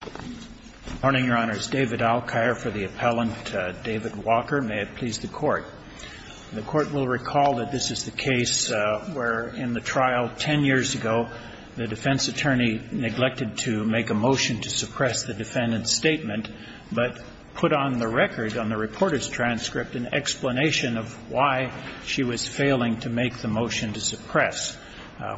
Good morning, Your Honors. David Alkire for the appellant, David Walker. May it please the Court. The Court will recall that this is the case where, in the trial 10 years ago, the defense attorney neglected to make a motion to suppress the defendant's statement, but put on the record, on the reporter's transcript, an explanation of why she was failing to make the motion to suppress.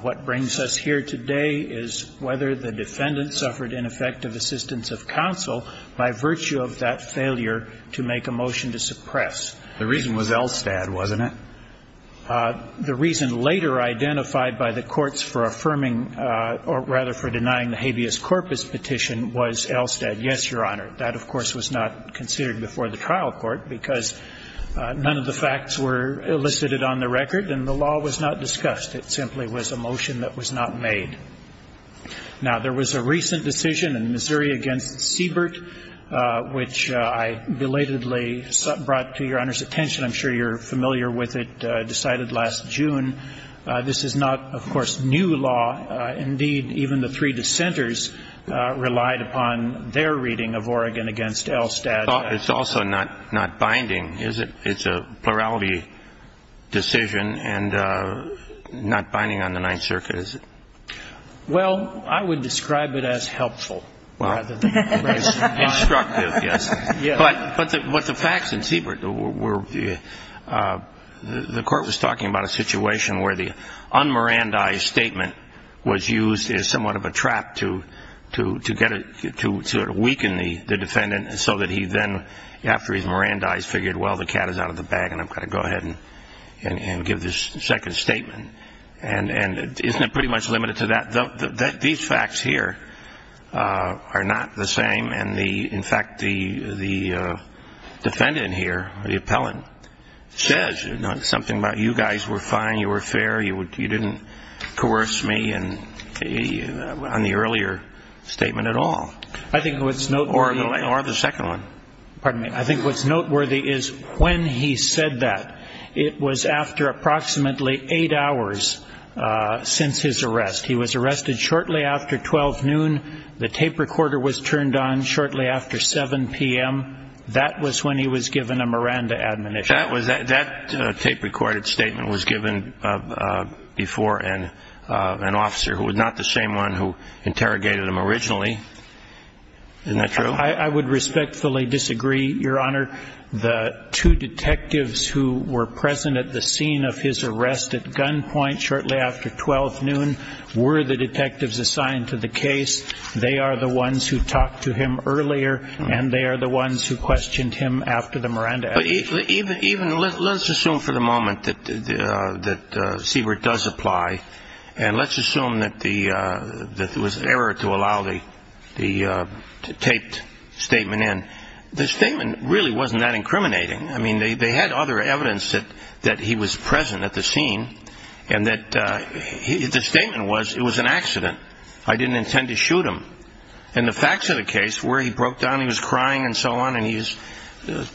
What brings us here today is whether the defendant suffered ineffective assistance of counsel by virtue of that failure to make a motion to suppress. The reason was Elstad, wasn't it? The reason later identified by the courts for affirming or, rather, for denying the habeas corpus petition was Elstad. Yes, Your Honor. That, of course, was not considered before the trial court because none of the facts were elicited on the record and the law was not discussed. It simply was a motion that was not made. Now, there was a recent decision in Missouri against Siebert, which I belatedly brought to Your Honor's attention. I'm sure you're familiar with it, decided last June. This is not, of course, new law. Indeed, even the three dissenters relied upon their reading of Oregon against Elstad. It's also not binding, is it? It's a plurality decision and not binding on the Ninth Circuit, is it? Well, I would describe it as helpful rather than instructive, yes. But the facts in Siebert were the court was talking about a situation where the un-Mirandi statement was used as somewhat of a trap to weaken the defendant so that he then, after he's Mirandized, figured, well, the cat is out of the bag and I've got to go ahead and give this second statement. And isn't it pretty much limited to that? These facts here are not the same. And, in fact, the defendant here, the appellant, says something about you guys were fine, you were fair, you didn't coerce me on the earlier statement at all. I think what's noteworthy is when he said that. It was after approximately eight hours since his arrest. He was arrested shortly after 12 noon. The tape recorder was turned on shortly after 7 p.m. That was when he was given a Miranda admonition. That tape recorder statement was given before an officer who was not the same one who interrogated him originally. Isn't that true? I would respectfully disagree, Your Honor. The two detectives who were present at the scene of his arrest at gunpoint shortly after 12 noon were the detectives assigned to the case. They are the ones who But even, let's assume for the moment that Siebert does apply and let's assume that it was error to allow the taped statement in. The statement really wasn't that incriminating. I mean, they had other evidence that he was present at the scene and that the statement was it was an accident. I didn't intend to shoot him. And the facts of the case, where he broke down, he was crying and so on. And he's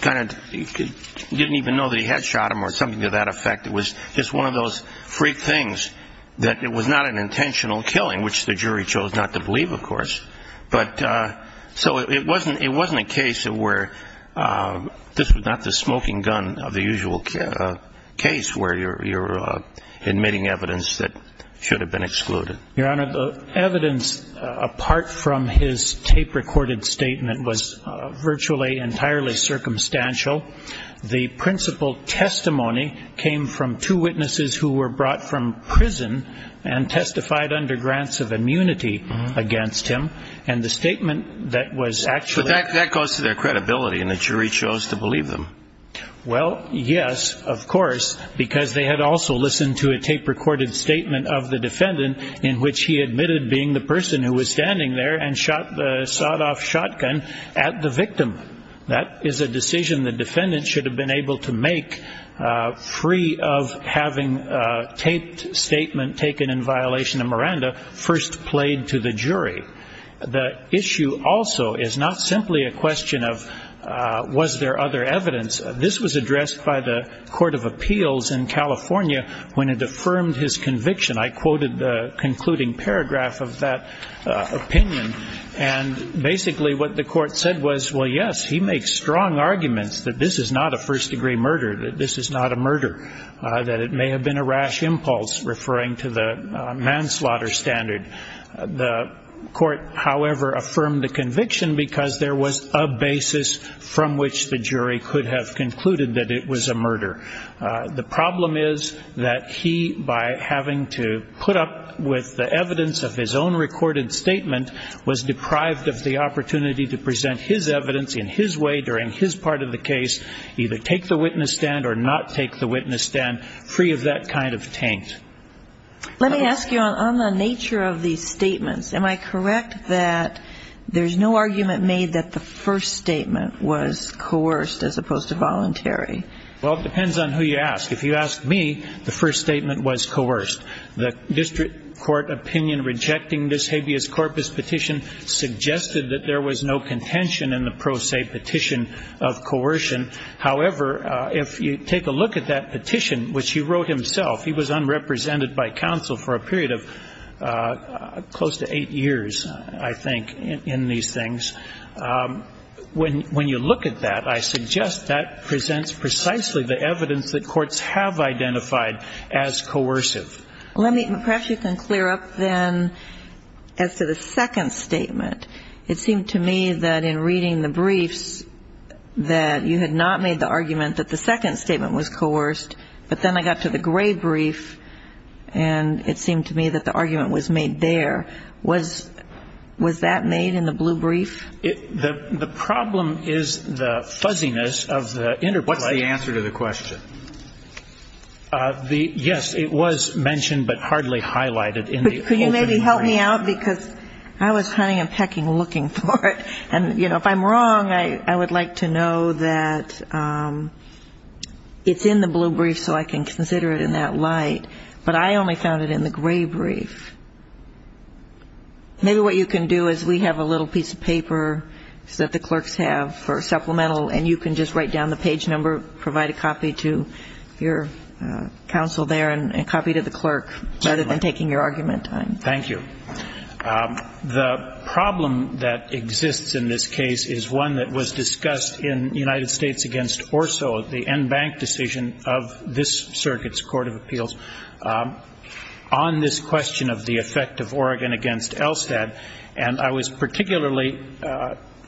kind of didn't even know that he had shot him or something to that effect. It was just one of those freak things that it was not an intentional killing, which the jury chose not to believe, of course. But so it wasn't it wasn't a case where this was not the smoking gun of the usual case where you're admitting evidence that should have been excluded. Your Honor, the evidence apart from his tape recorded statement was virtually entirely circumstantial. The principal testimony came from two witnesses who were brought from prison and testified under grants of immunity against him. And the statement that was actually that goes to their credibility and the jury chose to believe Well, yes, of course, because they had also listened to a tape recorded statement of the defendant in which he admitted being the person who was standing there and shot the sawed off shotgun at the victim. That is a decision the defendant should have been able to make free of having taped statement taken in violation of Miranda first played to the jury. The issue also is not simply a question of was there other evidence. This was addressed by the Court of Appeals in California when it affirmed his conviction. I quoted the concluding paragraph of that opinion. And basically what the court said was, well, yes, he makes strong arguments that this is not a first degree murder, that this is not a murder, that it may have been a rash impulse referring to the manslaughter standard. The court, however, affirmed the conviction because there was a basis from which the jury could have concluded that it was a murder. The problem is that he, by having to put up with the evidence of his own recorded statement, was deprived of the opportunity to present his evidence in his way during his part of the case, either take the witness stand or not take the witness stand free of that kind of taint. Let me ask you on the nature of these statements. Am I correct that there's no argument made that the first statement was coerced as opposed to voluntary? Well, it depends on who you ask. If you ask me, the first statement was coerced. The district court opinion rejecting this habeas corpus petition suggested that there was no contention in the pro se petition of coercion. However, if you take a look at that petition, which he wrote himself, he was unrepresented by counsel for a period of close to eight years, I think, in these things. When you look at that, I suggest that presents precisely the evidence that courts have identified as coercive. Perhaps you can clear up then as to the second statement. It seemed to me that in reading the argument that the second statement was coerced, but then I got to the gray brief, and it seemed to me that the argument was made there. Was that made in the blue brief? The problem is the fuzziness of the interplay. What's the answer to the question? Yes, it was mentioned, but hardly highlighted. But could you maybe help me out? Because I was hunting and pecking looking for it. And if I'm wrong, I would like to know that it's in the blue brief so I can consider it in that light. But I only found it in the gray brief. Maybe what you can do is we have a little piece of paper that the clerks have for supplemental, and you can just write down the page number, provide a copy to your counsel there, and a copy to the clerk, rather than taking your argument time. Thank you. The problem that exists in this case is one that was discussed in United States against Orso, the en banc decision of this circuit's court of appeals, on this question of the effect of Oregon against Elstad. And I was particularly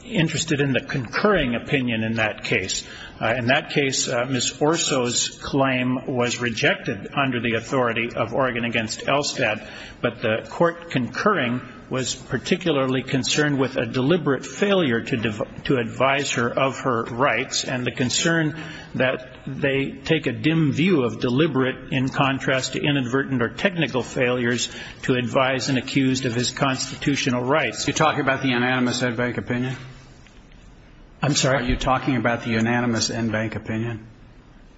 interested in the concurring opinion in that case. In that case, Ms. Orso's claim was rejected under the authority of Oregon against Elstad, but the court concurring was particularly concerned with a deliberate failure to advise her of her rights, and the concern that they take a dim view of deliberate in contrast to inadvertent or technical failures to advise an accused of his constitutional rights. You're talking about the unanimous en banc opinion? I'm sorry? Are you talking about the unanimous en banc opinion?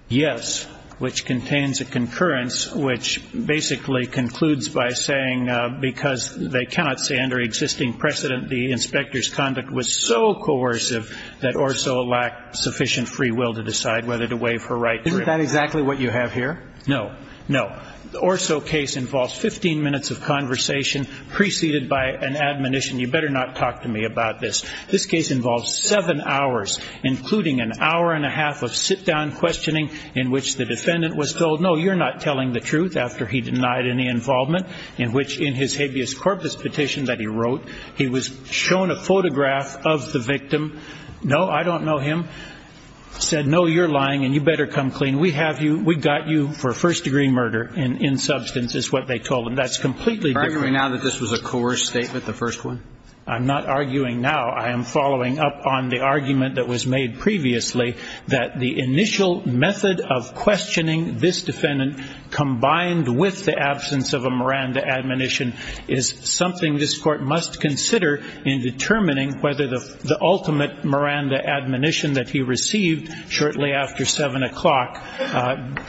Yes, which contains a concurrence which basically concludes by saying because they cannot say under existing precedent the inspector's conduct was so coercive that Orso lacked sufficient free will to decide whether to waive her rights. Isn't that exactly what you have here? No. No. The Orso case involves 15 minutes of conversation preceded by an admonition, you better not talk to me about this. This case involves seven hours, including an hour and a half of sit-down questioning in which the defendant was told, no, you're not telling the truth after he denied any involvement, in which in his habeas corpus petition that he wrote, he was shown a photograph of the victim, no, I don't know him, said, no, you're lying and you better come clean. We have you, we got you for first-degree murder in substance is what they told him. That's completely different. Are you arguing now that this was a coerced statement, the first one? I'm not arguing now. I am following up on the argument that was made previously that the initial method of questioning this defendant combined with the absence of a Miranda admonition is something this court must consider in determining whether the ultimate Miranda admonition that he received shortly after seven o'clock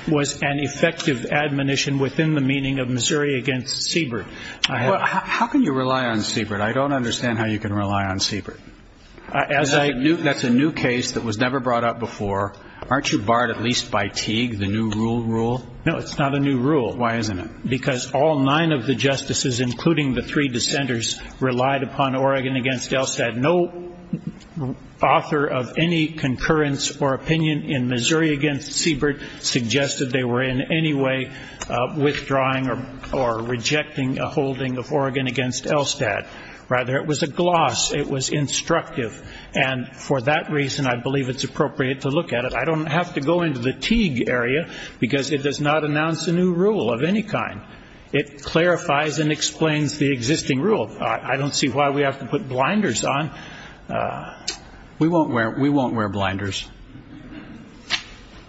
was an effective admonition within the meaning of Missouri against Siebert. How can you rely on Siebert? I don't understand how you can Aren't you barred at least by Teague, the new rule rule? No, it's not a new rule. Why isn't it? Because all nine of the justices, including the three dissenters, relied upon Oregon against Elstad. No author of any concurrence or opinion in Missouri against Siebert suggested they were in any way withdrawing or rejecting a holding of Oregon against Elstad. Rather, it was a gloss. It was instructive. And for that reason, I believe it's appropriate to look at it. I don't have to go into the Teague area because it does not announce a new rule of any kind. It clarifies and explains the existing rule. I don't see why we have to put blinders on. We won't wear blinders.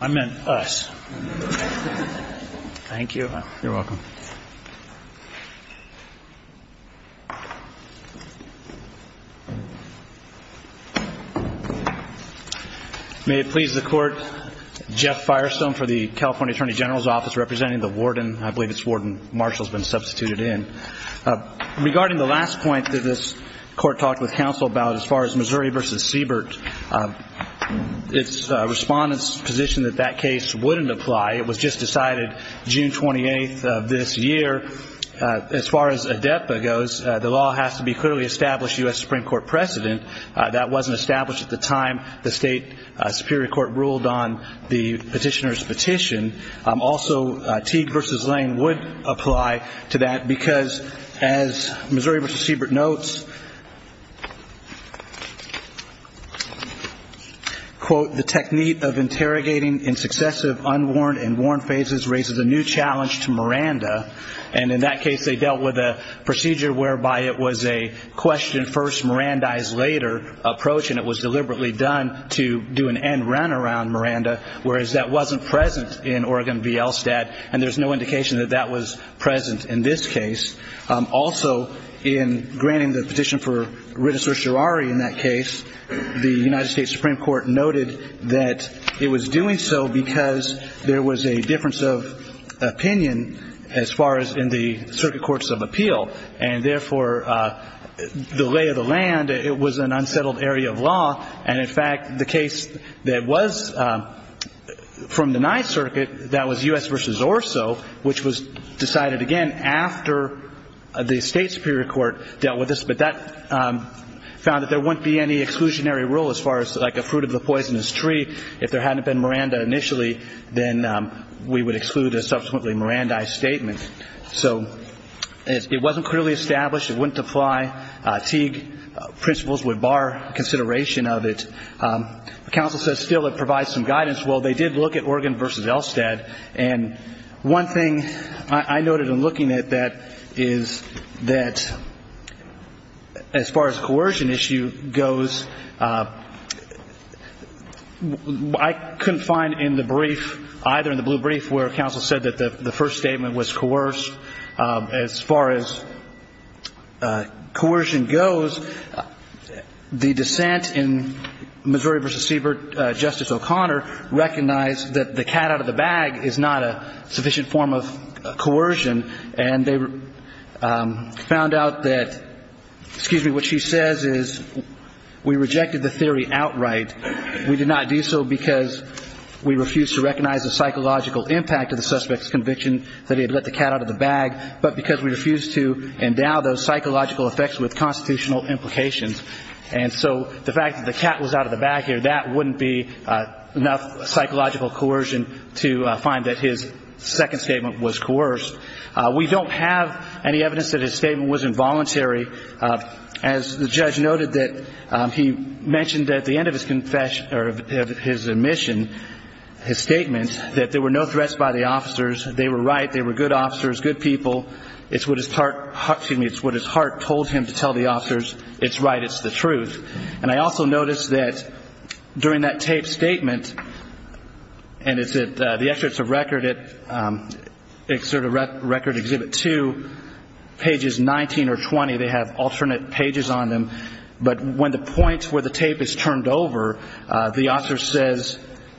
I meant us. Thank you. You're welcome. May it please the court. Jeff Firestone for the California Attorney General's Office, representing the warden. I believe it's warden. Marshall's been substituted in. Regarding the last point that this court talked with counsel about as far as Missouri versus this year, as far as ADEPA goes, the law has to be clearly established U.S. Supreme Court precedent. That wasn't established at the time the state superior court ruled on the petitioner's petition. Also, Teague versus Lane would apply to that because as Missouri versus Siebert notes, the technique of interrogating in successive unworn and worn phases raises a new challenge to Miranda. In that case, they dealt with a procedure whereby it was a question first, Mirandize later approach, and it was deliberately done to do an end run around Miranda, whereas that wasn't present in Oregon v. Elstad, and there's no indication that that was present in this case. Also, in granting the petition for Rita Sorcerari in that case, the United States Supreme Court noted that it was doing so because there was a difference of opinion as far as in the circuit courts of appeal, and therefore, the lay of the land, it was an unsettled area of law, and in fact, the case that was from the ninth circuit, that was U.S. versus Orso, which was decided again after the state superior court dealt with this, but that found that there wouldn't be any exclusionary rule as far as like a fruit of the poisonous tree. If there hadn't been Miranda initially, then we would exclude a subsequently Mirandize statement. So it wasn't clearly established. It wouldn't apply. Teague principles would bar consideration of it. The counsel says still it provides some guidance. Well, they did look at Oregon v. Elstad, and one thing I noted in looking at that is that as far as coercion issue goes, I couldn't find in the brief, either in the blue brief, where counsel said that the first statement was coerced. As far as coercion goes, the dissent in Missouri v. Siebert, Justice O'Connor recognized that the cat out of the bag is not a sufficient form of coercion, and they found out that, excuse me, what she says is we rejected the theory outright. We did not do so because we refused to recognize the psychological impact of the suspect's conviction that he had let the cat out of the bag, but because we refused to endow those psychological effects with constitutional implications. And so the fact the cat was out of the bag here, that wouldn't be enough psychological coercion to find that his second statement was coerced. We don't have any evidence that his statement was involuntary. As the judge noted that he mentioned at the end of his admission, his statement, that there were no threats by the officers. They were right. They were good officers, good people. It's what his heart told him to tell the officers. It's right. It's the truth. And I also noticed that during that tape statement, and it's at the Excerpts of Record, Excerpt of Record, Exhibit 2, pages 19 or 20, they have alternate pages on them, but when the point where the tape is turned over, the officer says,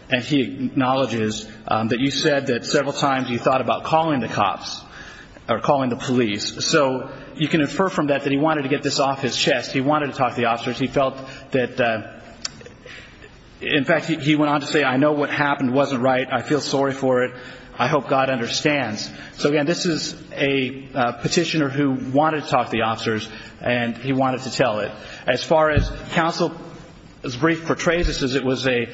and he acknowledges, that you said that several times you thought about calling the cops or calling the police. So you can infer from that that he wanted to get this off his chest. He wanted to talk to the officers. In fact, he went on to say, I know what happened wasn't right. I feel sorry for it. I hope God understands. So again, this is a petitioner who wanted to talk to the officers, and he wanted to tell it. As far as counsel's brief portrays this, it was a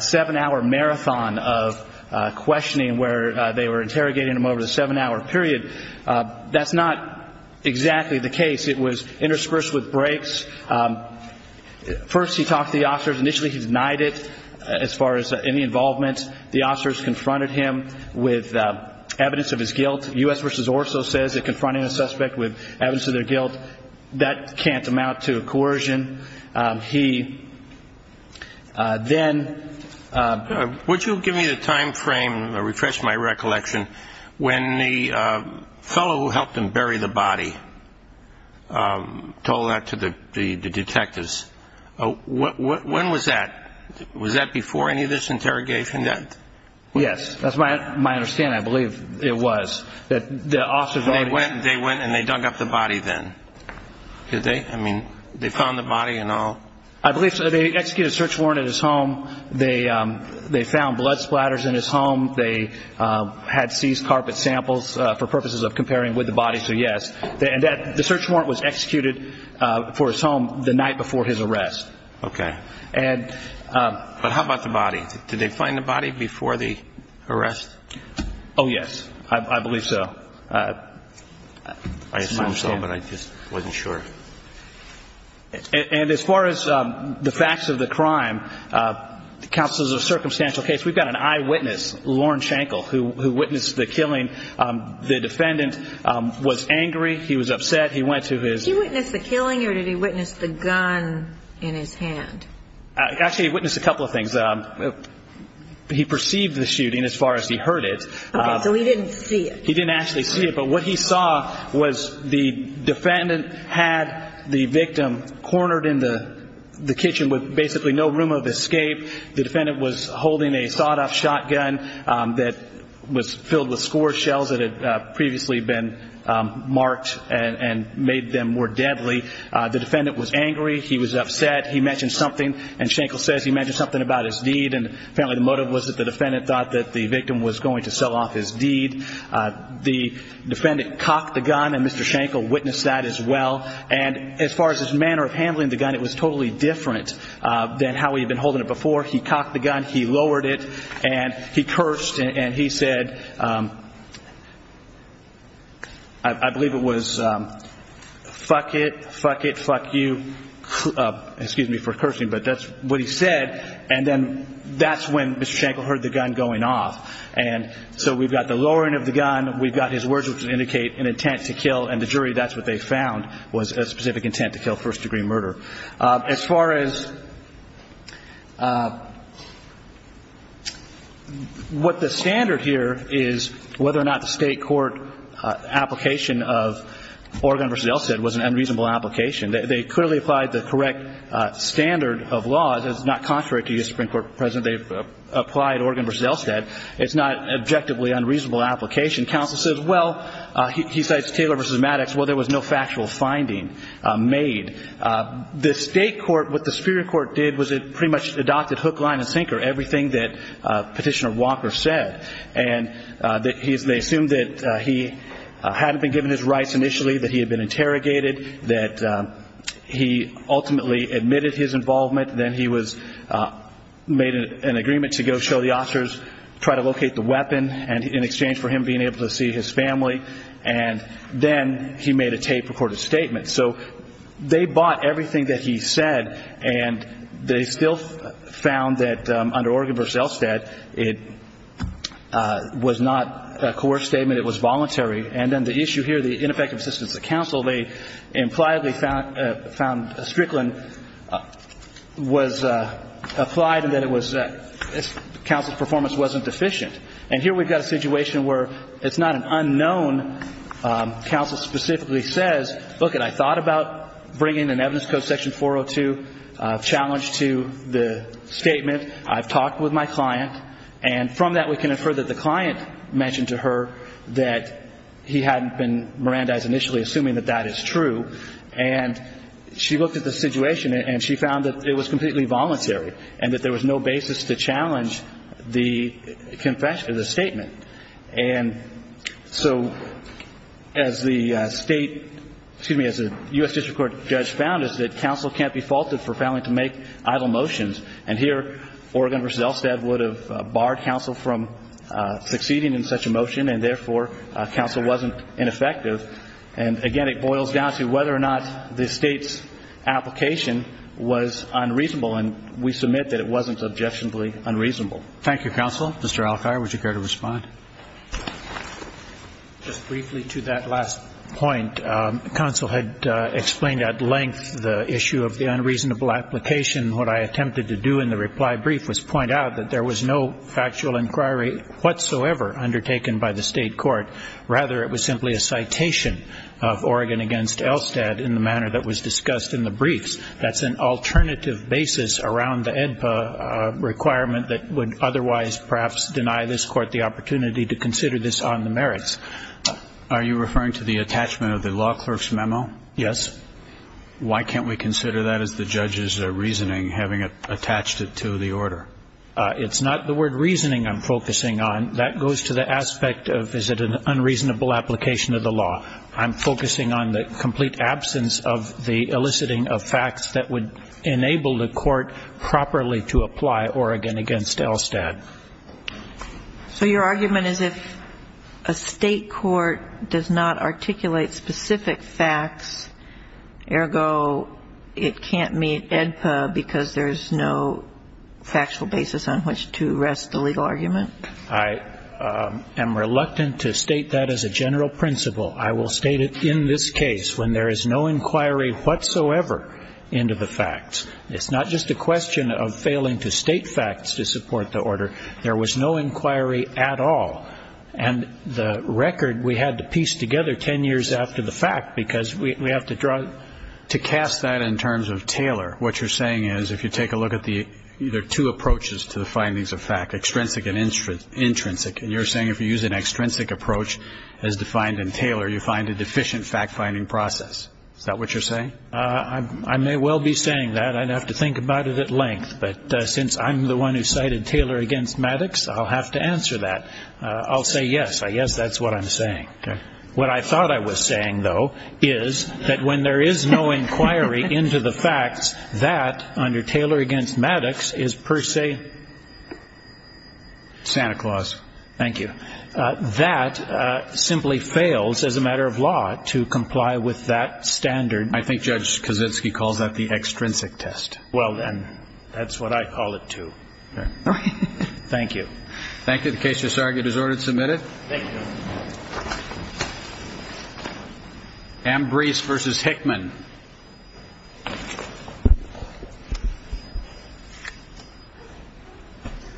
seven-hour marathon of questioning where they were interrogating him over the seven-hour period. That's not exactly the case. It was interspersed with breaks. First, he talked to the officers. Initially, he denied it as far as any involvement. The officers confronted him with evidence of his guilt. U.S. v. Orso says that confronting a suspect with evidence of their guilt, that can't amount to coercion. He then... Would you give me the time frame, refresh my recollection, when the fellow who helped him with the body told that to the detectives? When was that? Was that before any of this interrogation? Yes. That's my understanding. I believe it was. They went and they dug up the body then? Did they? I mean, they found the body and all? I believe so. They executed a search warrant at his home. They found blood splatters in his home. They had seized carpet samples for purposes of comparing with the body. So, yes. The search warrant was executed for his home the night before his arrest. Okay. But how about the body? Did they find the body before the arrest? Oh, yes. I believe so. I assume so, but I just wasn't sure. And as far as the facts of the crime, counsel, this is a circumstantial case. We've got an eyewitness, Lauren Shankle, who witnessed the killing. The defendant was angry. He was upset. He went to his... Did he witness the killing or did he witness the gun in his hand? Actually, he witnessed a couple of things. He perceived the shooting as far as he heard it. Okay. So he didn't see it? He didn't actually see it. But what he saw was the defendant had the victim cornered in the kitchen with basically no room of escape. The defendant was holding a sawed-off shotgun that was filled with score shells that had previously been marked and made them more deadly. The defendant was angry. He was upset. He mentioned something. And Shankle says he mentioned something about his deed. And apparently the motive was that defendant thought that the victim was going to sell off his deed. The defendant cocked the gun, and Mr. Shankle witnessed that as well. And as far as his manner of handling the gun, it was totally different than how he'd been holding it before. He cocked the gun, he lowered it, and he cursed. And he said, I believe it was, fuck it, fuck it, fuck you. Excuse me for cursing, but that's what he said. And then that's when Mr. Shankle heard the gun going off. And so we've got the lowering of the gun, we've got his words which indicate an intent to kill, and the jury, that's what they found, was a specific intent to kill, first-degree murder. As far as what the standard here is, whether or not the state court application of Oregon was an unreasonable application. They clearly applied the correct standard of law. It's not contrary to you, Supreme Court President. They've applied Oregon v. Elstead. It's not an objectively unreasonable application. Counsel says, well, he cites Taylor v. Maddox, well, there was no factual finding made. The state court, what the superior court did was it pretty much adopted hook, line, and sinker, everything that Petitioner Walker said. And they assumed that he hadn't been given his rights initially, that he had been interrogated, that he ultimately admitted his involvement. Then he made an agreement to go show the officers, try to locate the weapon in exchange for him being able to see his family. And then he made a tape-recorded statement. So they bought everything that he said, and they still found that under Oregon v. Elstead, it was not a coerced statement. It was voluntary. And then the issue here, the ineffective assistance of counsel, they implied they found Strickland was applied and that it was counsel's performance wasn't deficient. And here we've got a situation where it's not an unknown. Counsel specifically says, look, I thought about bringing an evidence code section 402 challenge to the statement. I've heard that the client mentioned to her that he hadn't been Mirandized initially, assuming that that is true. And she looked at the situation, and she found that it was completely voluntary and that there was no basis to challenge the statement. And so as the state, excuse me, as a U.S. District Court judge found is that counsel can't be faulted for failing to make idle motions. And here, Oregon v. Elstead would have barred counsel from succeeding in such a motion, and therefore, counsel wasn't ineffective. And again, it boils down to whether or not the state's application was unreasonable. And we submit that it wasn't subjectionably unreasonable. Thank you, counsel. Mr. Alfire, would you care to respond? Just briefly to that last point, counsel had explained at length the issue of the unreasonable application. What I attempted to do in the reply brief was point out that there was no factual inquiry whatsoever undertaken by the state court. Rather, it was simply a citation of Oregon v. Elstead in the manner that was discussed in the briefs. That's an alternative basis around the AEDPA requirement that would otherwise perhaps deny this court the opportunity to consider this on the merits. Are you referring to the attachment of the law clerk's memo? Yes. Why can't we consider that as the judge's reasoning, having attached it to the order? It's not the word reasoning I'm focusing on. That goes to the aspect of is it an unreasonable application of the law. I'm focusing on the complete absence of the eliciting of facts that would enable the court properly to apply Oregon v. Elstead. So your argument is if a state court does not articulate specific facts, ergo, it can't meet AEDPA because there's no factual basis on which to rest the legal argument? I am reluctant to state that as a general principle. I will state it in this case when there is no inquiry whatsoever into the facts. It's not just a question of failing to state facts to support the order. There was no inquiry at all. And the record we had to piece together 10 years after the fact because we have to draw it. To cast that in terms of Taylor, what you're saying is if you take a look at the either two approaches to the findings of fact, extrinsic and intrinsic, and you're saying if you use an extrinsic approach as defined in Taylor, you find a deficient fact-finding process. Is that what you're saying? I may well be saying that. I'd have to think about it at length. But since I'm the one who cited Taylor against Maddox, I'll have to answer that. I'll say yes. I guess that's what I'm saying. Okay. What I thought I was saying, though, is that when there is no inquiry into the facts, that under Taylor against Maddox is per se... Santa Claus. Thank you. That simply fails as a matter of law to comply with that standard. I think Judge Kaczynski calls that the extrinsic test. Well, then, that's what I call it, too. Thank you. Thank you. The case is argued as ordered. Submit it. Ambrice versus Hickman.